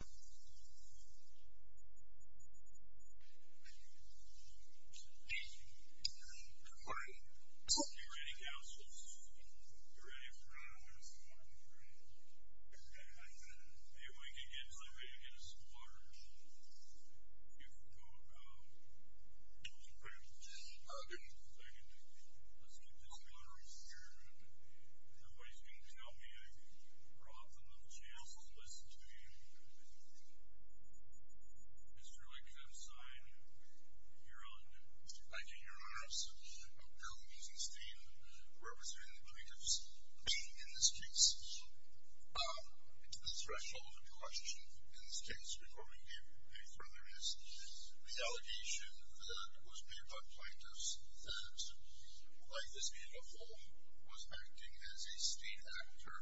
Are you ready, councilors? Are you ready for it? Maybe we can get somebody to get us some water. If you could go to those panels for a second. Let's get this water over here. Nobody's going to tell me I brought them the chance to listen to you. Mr. Leclerc, sign your own. Thank you, your honors. Bill Wiesenstein, representing the plaintiffs in this case. The threshold of the question in this case, before we go any further, is the allegation that was made by the plaintiffs that, like this in the home, was acting as a state actor.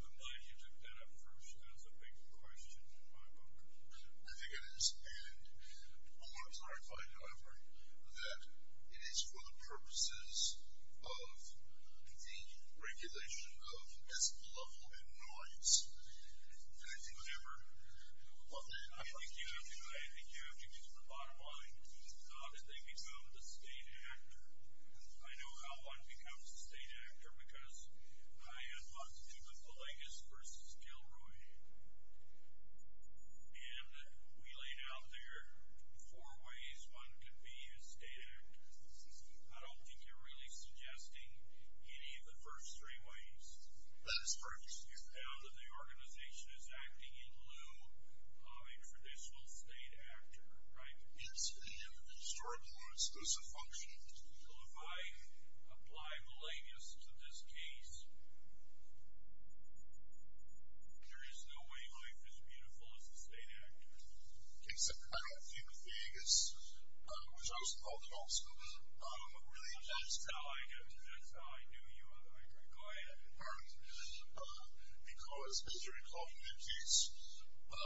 I'm glad you took that up first as a big question in my book. I think it is. And I want to clarify, however, that it is for the purposes of the regulation of this level in noise. And I think whatever, I think you have to get to the bottom line. How did they become the state actor? I know how one becomes the state actor, because I had lots to do with the Legas versus Gilroy. And we laid out there four ways one could be a state actor. I don't think you're really suggesting any of the first three ways. That is correct. You found that the organization is acting in lieu of a traditional state actor, right? It's in historical order. It's a function. Well, if I apply Millennius to this case, there is no way life is beautiful as a state actor. Okay. So I don't think the Legas, which I was involved in also, really helps. That's how I got to that. That's how I knew you. Go ahead. Because as you recall from that case,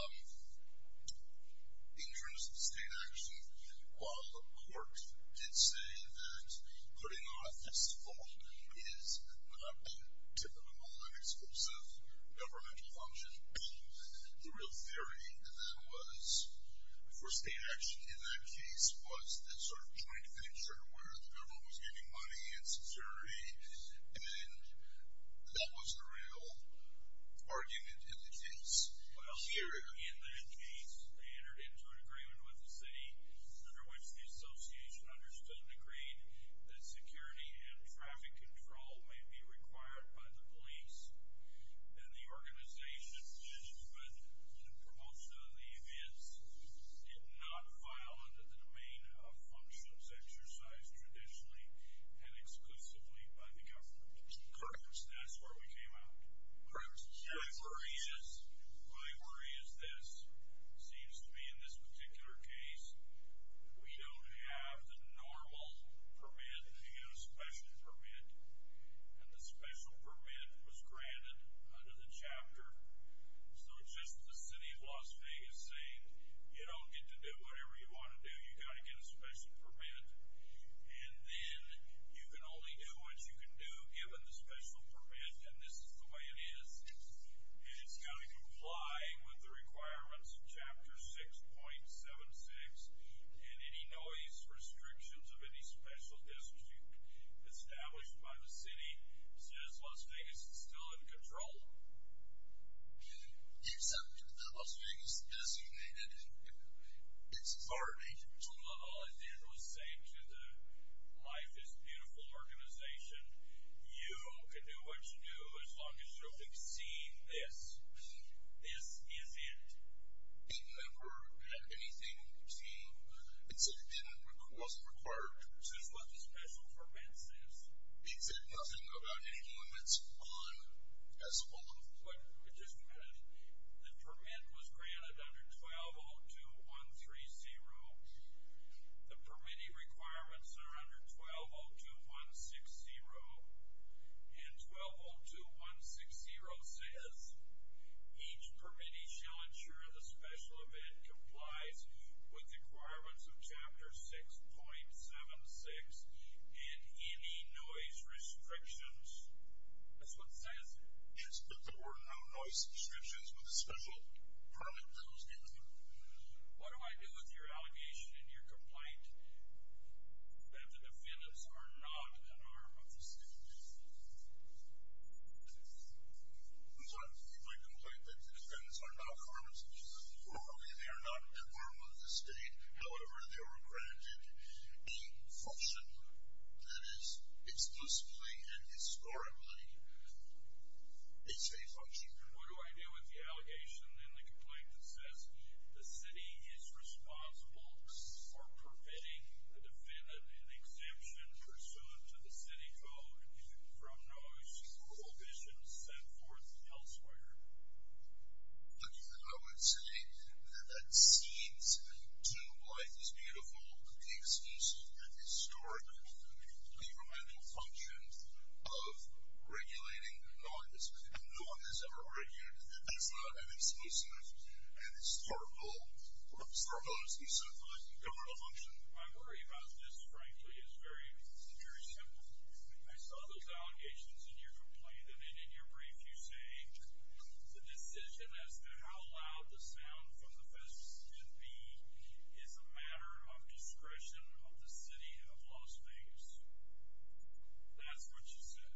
in terms of the state action, while the court did say that putting on a fistful is not a typical and exclusive governmental function, the real theory then was for state action in that case was this sort of joint venture where the government was giving money and sincerity. And that was the real argument in the case. Well, here in that case, they entered into an agreement with the city under which the association understood and agreed that security and traffic control may be required by the police. And the organization that was involved in the promotion of the events did not file under the domain of functions exercised traditionally and exclusively by the government. Correct. That's where we came out. Correct. My worry is this. It seems to me in this particular case, we don't have the normal permit to get a special permit. And the special permit was granted under the chapter. So it's just the city of Las Vegas saying, you don't get to do whatever you want to do. You got to get a special permit. And then you can only do what you can do given the special permit. And this is the way it is. And it's got to comply with the requirements of chapter 6.76. And any noise restrictions of any special district established by the city says Las Vegas is still in control. Except that Las Vegas designated its authority. Well, all it did was say to the Life is Beautiful organization, you can do what you do as long as you've seen this. This is it. It never had anything to do. It said it wasn't required. This is what the special permit says. It said nothing about anyone that's on as well. Just a minute. The permit was granted under 1202130. The permittee requirements are under 1202160. And 1202160 says each permittee shall ensure the special event complies with the requirements of chapter 6.76 and any noise restrictions. That's what it says. Yes, but there were no noise restrictions with the special permit that was given. What do I do with your allegation and your complaint that the defendants are not an arm of the state? My complaint that the defendants are not an arm of the state. Normally they are not an arm of the state. However, they were granted a function. That is, exclusively and historically it's a function. What do I do with the allegation and the complaint that says the city is responsible for permitting the defendant an exemption pursuant to the city code from noise prohibitions set forth elsewhere? Look, I would say that that cedes to why it's beautiful, the exclusive and historical governmental function of regulating noise. No one has ever argued that that's not an exclusive and historical and historically set forth governmental function. My worry about this, frankly, is very, very simple. I saw those allegations in your complaint and in your brief you say the decision as to how loud the sound from the fence should be is a matter of discretion of the city of Las Vegas. That's what you said.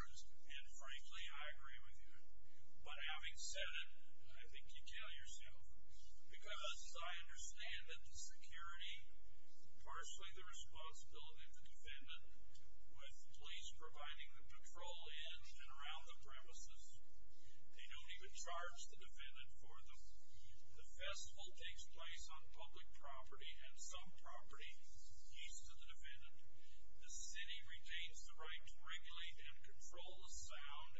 And frankly, I agree with you. But having said it, I think you tell yourself, because I understand that the security, partially the responsibility of the defendant, with police providing the patrol in and around the premises. They don't even charge the defendant for them. The festival takes place on public property and some property east of the defendant. The city retains the right to regulate and control the sound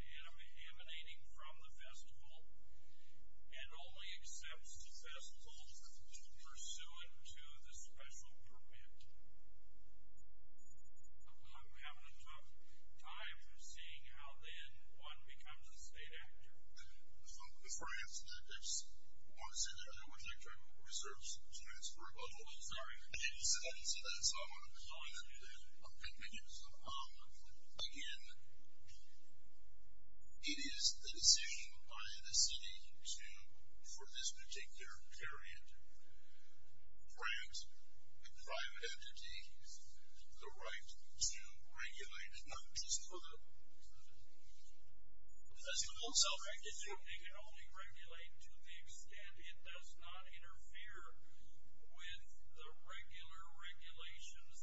emanating from the festival and only accepts the festival pursuant to the special permit. I'm having a tough time seeing how, then, one becomes a state actor. For instance, I just want to say that I don't want to try to reserve students for rebuttals. I didn't say that, so I want to be clear on that. Thank you. Again, it is the decision by the city to, for this particular period, grant a private entity the right to regulate, not just for the festival. So they can only regulate to the extent it does not interfere with the regular regulations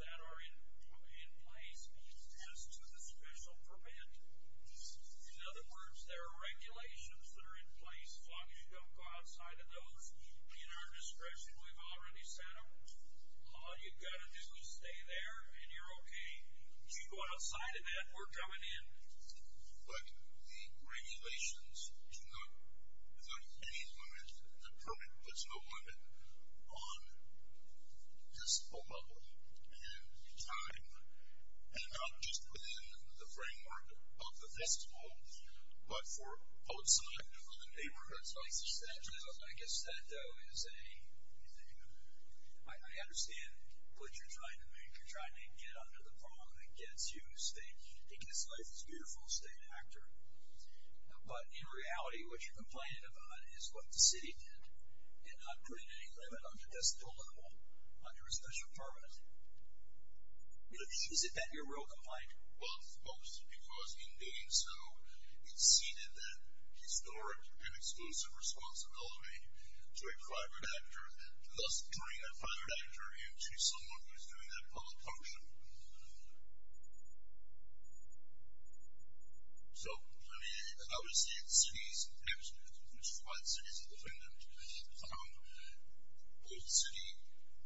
that are in place as to the special permit. In other words, there are regulations that are in place. As long as you don't go outside of those, in our discretion, we've already set them. All you've got to do is stay there and you're okay. If you go outside of that, we're coming in. But the regulations do not, without any limit, the permit puts no limit on festival level and time, and not just within the framework of the festival, but for outside of the neighborhood. I guess that, though, is a, I understand what you're trying to make. You're trying to get under the prong that gets you state, because life is beautiful, stay an actor. But in reality, what you're complaining about is what the city did and not putting any limit on the festival level under a special permit. Is that your real complaint? Well, it's both, because in doing so, it ceded that historic and exclusive responsibility to a private actor, to thus bring a private actor into someone who is doing that public function. So, I mean, I would say the city is absolutely, which is why the city is independent, found both city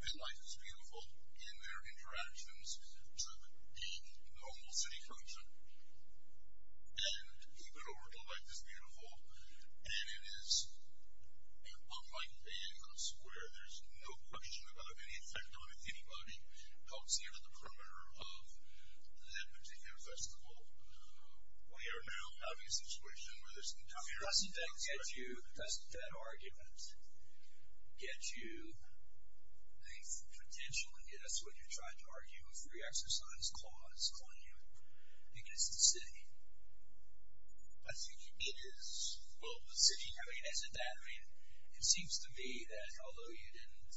and life is beautiful in their interactions to the normal city function. And even overall, life is beautiful. And it is, unlike any other square, there's no question about it, any effect on it, anybody comes here to the perimeter of that particular festival. We are now having a situation where there's interference. Doesn't that get you, doesn't that argument get you the potential and get us what you're trying to argue, a free exercise clause, calling you against the city? I think it is. Well, the city, I mean, isn't that, I mean, it seems to me that, although you didn't,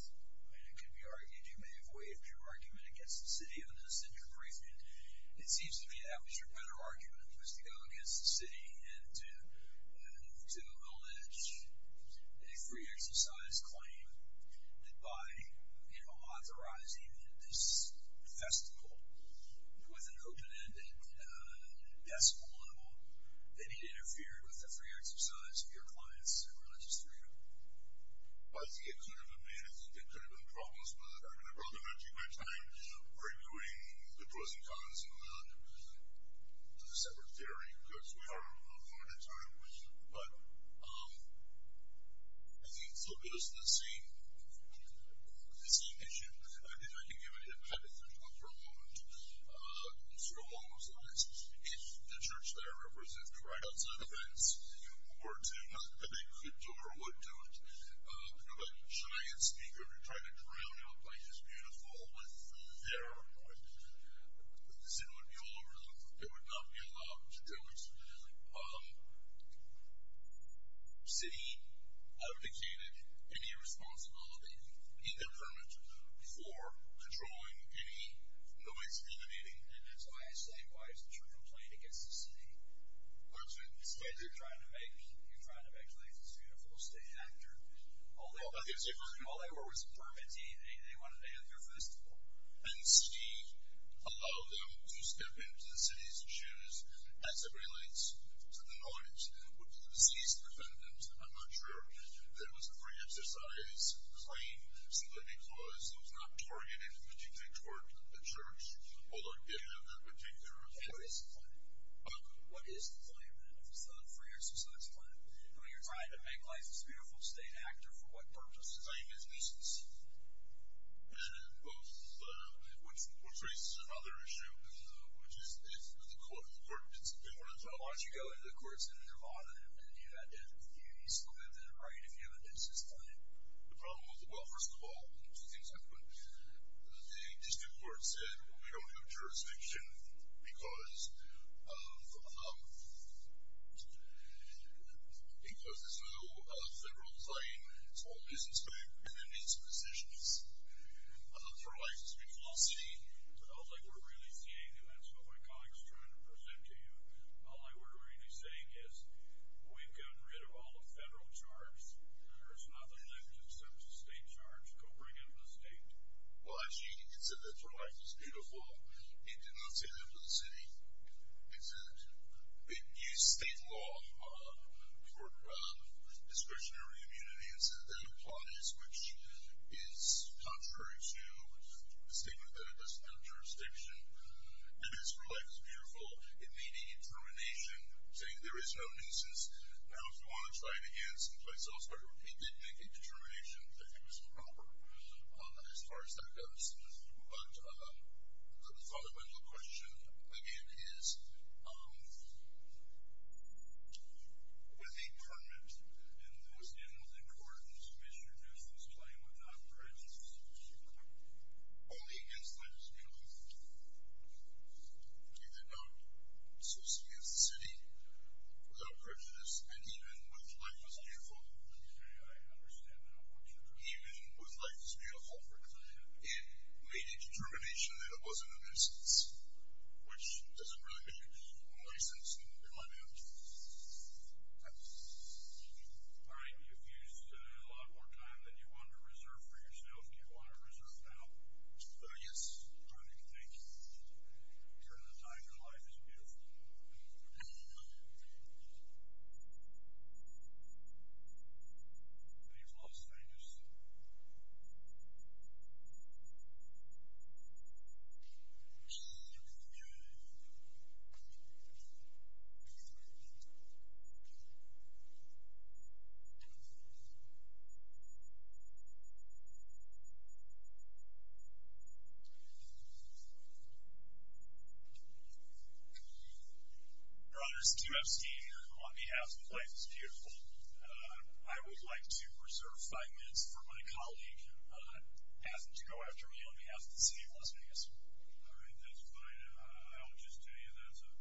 I mean, it could be argued you may have waived your argument against the city on an essential briefing. It seems to me that was your better argument, was to go against the city and to allege a free exercise claim that by, you know, authorizing this festival with an open-ended decibel level, they need to interfere with the free exercise of your clients and religious freedom. Well, I think it could have been, I think it could have been promised, but I'd rather not take my time arguing the pros and cons of the separate theory, because we are out of time. But I think it still goes to the same issue. I can give you a hypothetical for a moment, sort of along those lines. If the church that I represent right outside the fence were to, not that they could do or would do it, if a giant speaker were to try to drown out by his beautiful with their noise, the city would be all over the place. They would not be allowed to do it. City abdicated any responsibility in their permit for controlling any noise emanating. And that's why I say, why is the church complaining against the city? Because you're trying to make religious freedom a full-state actor. All they were was permitting. They wanted to have their festival. And city allowed them to step into the city's issues as it relates to the noise. Would the deceased defendant, I'm not sure, that it was a free exercise claim, simply because it was not targeted particularly toward the church, although it did have that particular effect. What is the claim? What is the claim, then, of the free exercise plan? I mean, you're trying to make life this beautiful state actor for what purpose? The claim is nuisance. And both, which raises another issue, which is the court. It's been one of the problems. Why don't you go into the courts in Nevada and do that then? You can still move in and write if you have a nuisance claim. The problem was, well, first of all, two things happened. The district court said, well, we don't have jurisdiction because there's no federal claim. It's all nuisance claim. And there needs to be decisions. It's not like it's a big philosophy. I don't think we're really seeing that. That's what my colleague is trying to present to you. All I would really be saying is we've gotten rid of all the federal charge. There's nothing left except the state charge. Go bring it to the state. Well, actually, you can consider it for life. It's beautiful. He did not say that to the city. He said it used state law for discretionary immunity. And so that applies, which is contrary to the statement that it doesn't have jurisdiction. And it's for life. It's beautiful. It made a determination saying there is no nuisance. Now, if you want to try it again someplace else, but he did make a determination that it was improper as far as that goes. But the fundamental question, again, is with a permit, and those animals in court misreduce this claim without prejudice, only against life is beautiful. He did not say this against the city without prejudice, and even with life is beautiful. It made a determination that it wasn't a nuisance, which doesn't really make any sense in my view. All right. You've used a lot more time than you wanted to reserve for yourself. Do you want to reserve now? Yes. All right. Thank you. You're in a time when life is beautiful. All right. Very close. Very close. Your Honor, Steve Epstein here on behalf of Life is Beautiful. I would like to reserve five minutes for my colleague, asking to go after me on behalf of the city of Las Vegas. All right. That's fine. I'll just tell you that's a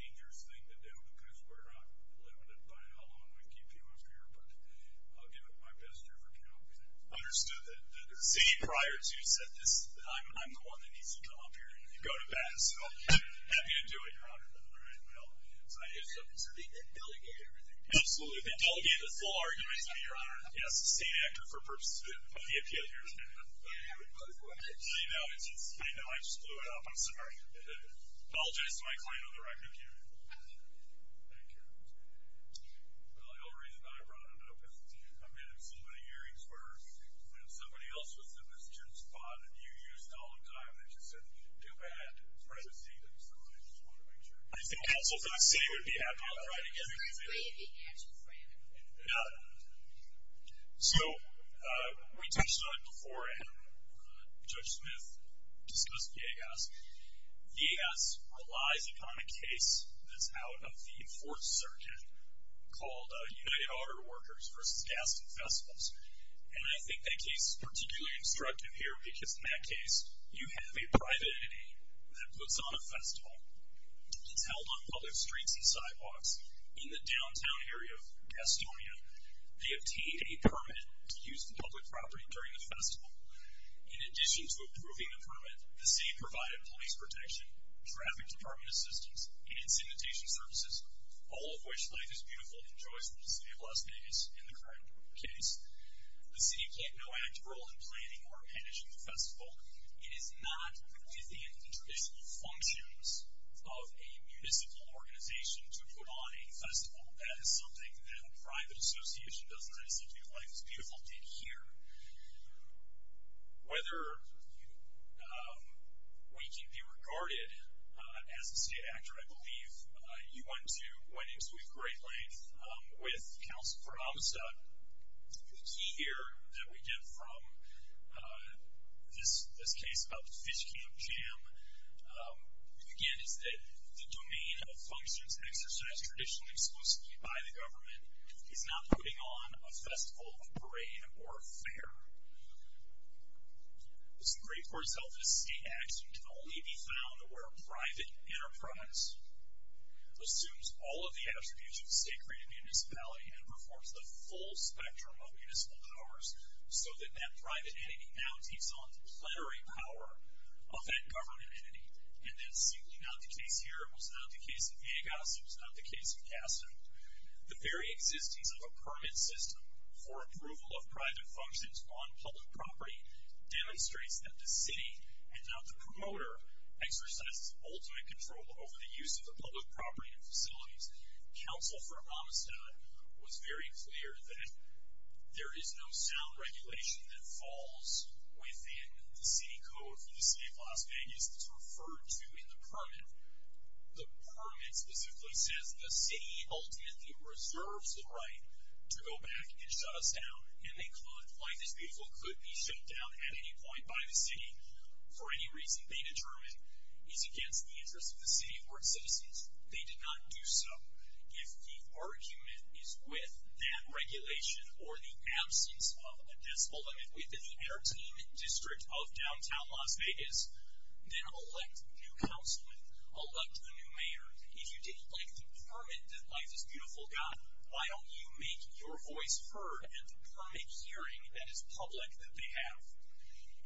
dangerous thing to do, because we're not limited by how long we keep you up here. But I'll give it my best effort to help you there. Understood. The city prior to you said this, that I'm the one that needs to come up here and go to bat. So happy to do it, Your Honor. All right. Well, it's an idea of something. So they delegated everything to you? Absolutely. They delegated this whole argument to me, Your Honor. Yes, the same actor for purposes of the appeal here. Yeah, we both were. I know. I know. I just blew it up. I'm sorry. Apologize to my client on the record. Thank you. Thank you. Well, the only reason I brought it up is I've been in so many hearings where when somebody else was in this gym spot and you used all the time, and they just said that you didn't do bad in front of the ceiling, so I just wanted to make sure. I think counsel for the city would be happy about that. I'll try to get him to do it. So it's great to be actual for you. Yeah. So we touched on it before, and Judge Smith discussed VAS. VAS relies upon a case that's out of the 4th Circuit called United Auto Workers versus Gaston Festivals. And I think that case is particularly instructive here because in that case you have a private entity that puts on a festival. It's held on public streets and sidewalks in the downtown area of Gastonia. They obtain a permit to use the public property during the festival. In addition to approving the permit, the city provided police protection, traffic department assistance, and incineration services, all of which Life is Beautiful enjoys from the city of Las Vegas in the current case. The city played no active role in planning or managing the festival. It is not within the traditional functions of a municipal organization to put on a festival. That is something that a private association does not execute. Life is Beautiful did here. Whether we can be regarded as a state actor, I believe, you went to, My name is Luke Greatlane. I'm with Council for Amistad. The key here that we get from this case about the Fish Camp Jam, again, is that the domain of functions exercised traditionally exclusively by the government is not putting on a festival, a parade, or a fair. It's great for itself as a state actor to only be found where a private enterprise assumes all of the attributes of a state-created municipality and performs the full spectrum of municipal powers so that that private entity now takes on the plenary power of that government entity. And that's simply not the case here. It was not the case in Vegas. It was not the case in Casa. The very existence of a permit system for approval of private functions on public property demonstrates that the city, and not the promoter, exercises ultimate control over the use of the public property and facilities. Council for Amistad was very clear that there is no sound regulation that falls within the city code for the city of Las Vegas that's referred to in the permit. The permit specifically says the city ultimately reserves the right to go back and shut us down, and they could, life is beautiful, could be shut down at any point by the city for any reason they determine is against the interests of the city or its citizens. They did not do so. If the argument is with that regulation or the absence of a decibel limit within the Air Team District of downtown Las Vegas, then elect a new councilman, elect a new mayor. If you didn't like the permit that life is beautiful got, why don't you make your voice heard at the permit hearing that is public that they have?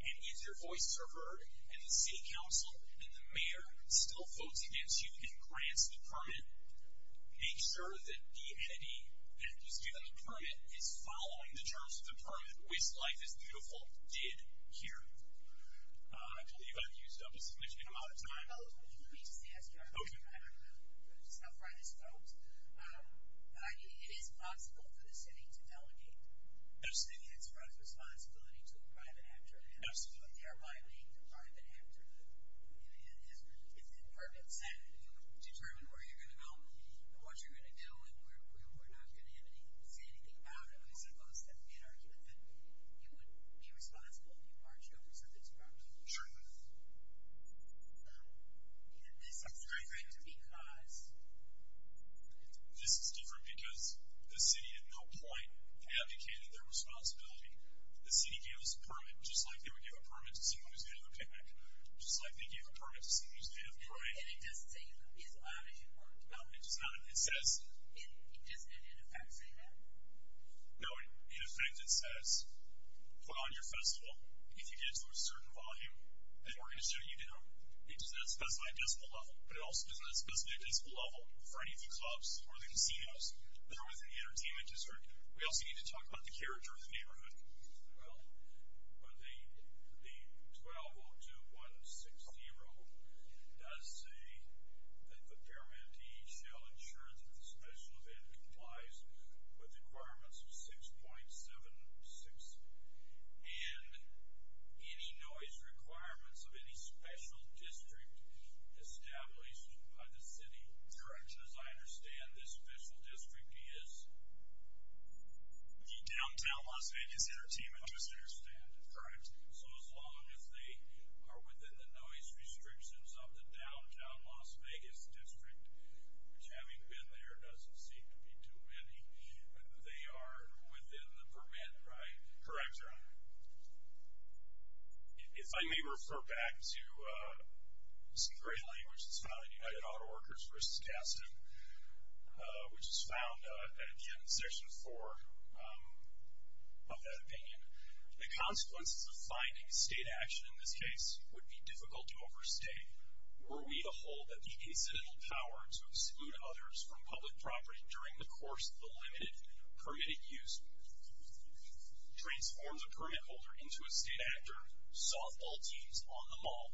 And if your voice is heard and the city council and the mayor still votes against you and grants the permit, make sure that the entity that was given the permit is following the terms of the permit, which life is beautiful did here. I believe I've used up a significant amount of time. Let me just ask you, I don't know how far this goes, but it is possible for the city to delegate. It's the city's responsibility to the private actor. Absolutely. They're violating the private actor. If the permit is set and you determine where you're going to go and what you're going to do and we're not going to say anything about it, are we supposed to make an argument that you would be responsible if you marched over somebody's property? Sure. And this is different because? This is different because the city at no point advocated their responsibility. The city gave us a permit just like they would give a permit to see movies made at the picnic, just like they gave a permit to see movies made at the party. And it doesn't say you could be as loud as you want. No, it does not. It says. It doesn't in effect say that? No, in effect it says put on your festival. If you get it to a certain volume, then we're going to shut you down. It does not specify a decimal level, but it also does not specify a decimal level for any of the clubs or the casinos that are within the entertainment district. We also need to talk about the character of the neighborhood. Well, the 1202160 does say that the paramedic shall ensure that the special event complies with requirements of 6.76 and any noise requirements of any special district established by the city. Correct. As far as I understand, this special district is? The downtown Las Vegas entertainment district. I understand. Correct. So as long as they are within the noise restrictions of the downtown Las Vegas district, which having been there, doesn't seem to be too many, they are within the permit, right? Correct, Your Honor. If I may refer back to some great language, this is found in United Auto Workers v. Gaston, which is found at the end of Section 4 of that opinion. The consequences of finding state action in this case would be difficult to overstate. Were we to hold that the incidental power to exclude others from public property during the course of the limited permitted use transforms a permit holder into a state actor, softball teams on the mall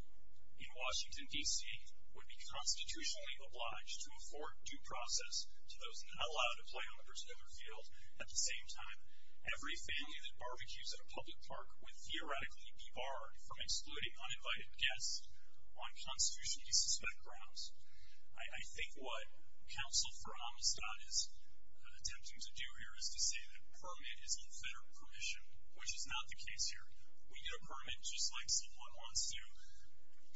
in Las Vegas would be constitutionally obliged to afford due process to those not allowed to play on a particular field at the same time. Every family that barbecues at a public park would theoretically be barred from excluding uninvited guests on constitutionally suspect grounds. I think what counsel for Amistad is attempting to do here is to say that permit is unfettered permission, which is not the case here. We get a permit just like someone wants to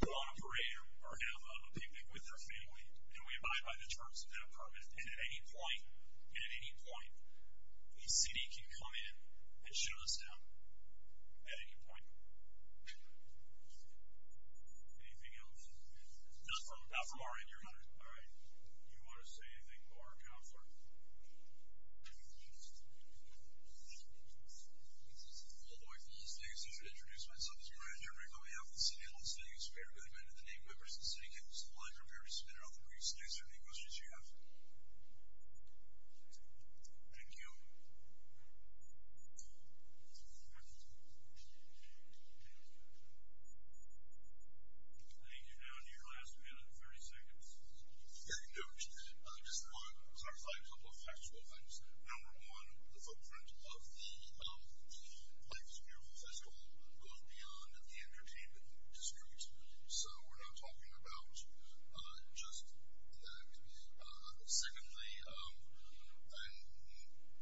go on a parade or have a picnic with their family, and we abide by the terms of that permit. And at any point, at any point, a city can come in and shut us down at any point. Anything else? Not from our end, your honor. All right. Do you want to say anything more, counselor? All the way from Las Vegas, I would introduce myself as a graduate coming out of the city of Las Vegas. So we're not talking about just that. Secondly, and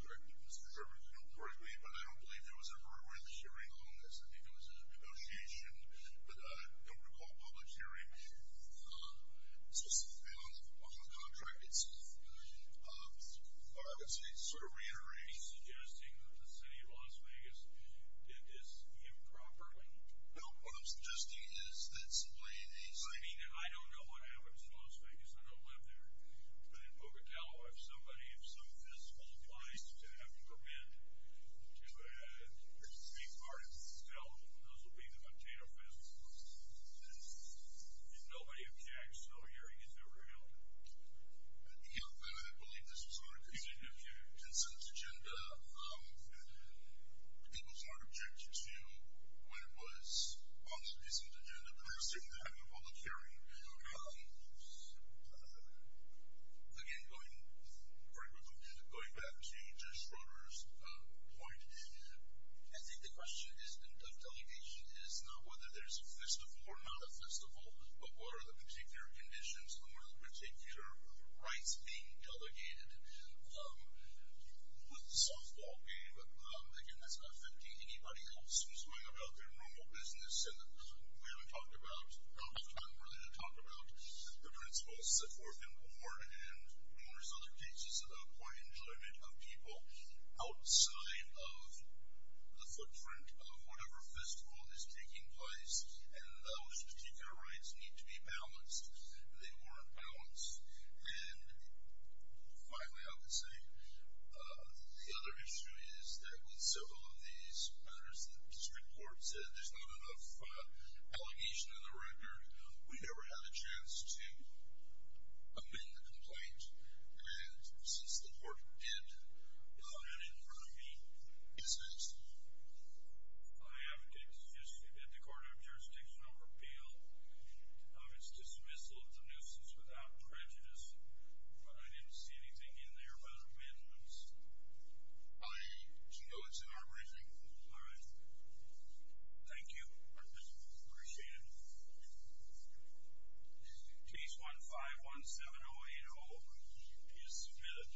correct me if I'm wrong, but I don't believe there was ever a public hearing on this. I think it was a negotiation, but I don't recall a public hearing. This was on the contract itself. I would say it's sort of reiterating. Are you suggesting that the city of Las Vegas did this improperly? No. What I'm suggesting is that simply a city. I mean, I don't know what happens in Las Vegas. I don't live there. But in Boca Cala, if somebody, if some fiscal applies to have a permit to be part of this town, those will be the container festivals. And nobody objects to a hearing that's ever held. I believe this was on a consensus agenda. It was not objected to when it was on the business agenda, but it was taken to having a public hearing. Again, going back to Judge Schroeder's point, I think the question of delegation is not whether there's a festival or not a festival, but what are the particular conditions? And what are the particular rights being delegated? With the softball game, again, that's not affecting anybody else who's going about their normal business. And we haven't talked about, not enough time really to talk about the principles that were important. And there's other cases of poor enjoyment of people outside of the footprint of whatever festival is taking place. And those particular rights need to be balanced. They weren't balanced. And finally, I would say, the other issue is that with several of these murders, the district court said there's not enough allegation in the record. We never had a chance to amend the complaint. And since the court did, I have it in front of me. Yes, ma'am. I have a case just at the court of jurisdictional repeal. It's dismissal of the nuisance without prejudice. But I didn't see anything in there about amendments. I know it's in our briefing. All right. Thank you. Appreciate it. Case 1517080 is submitted.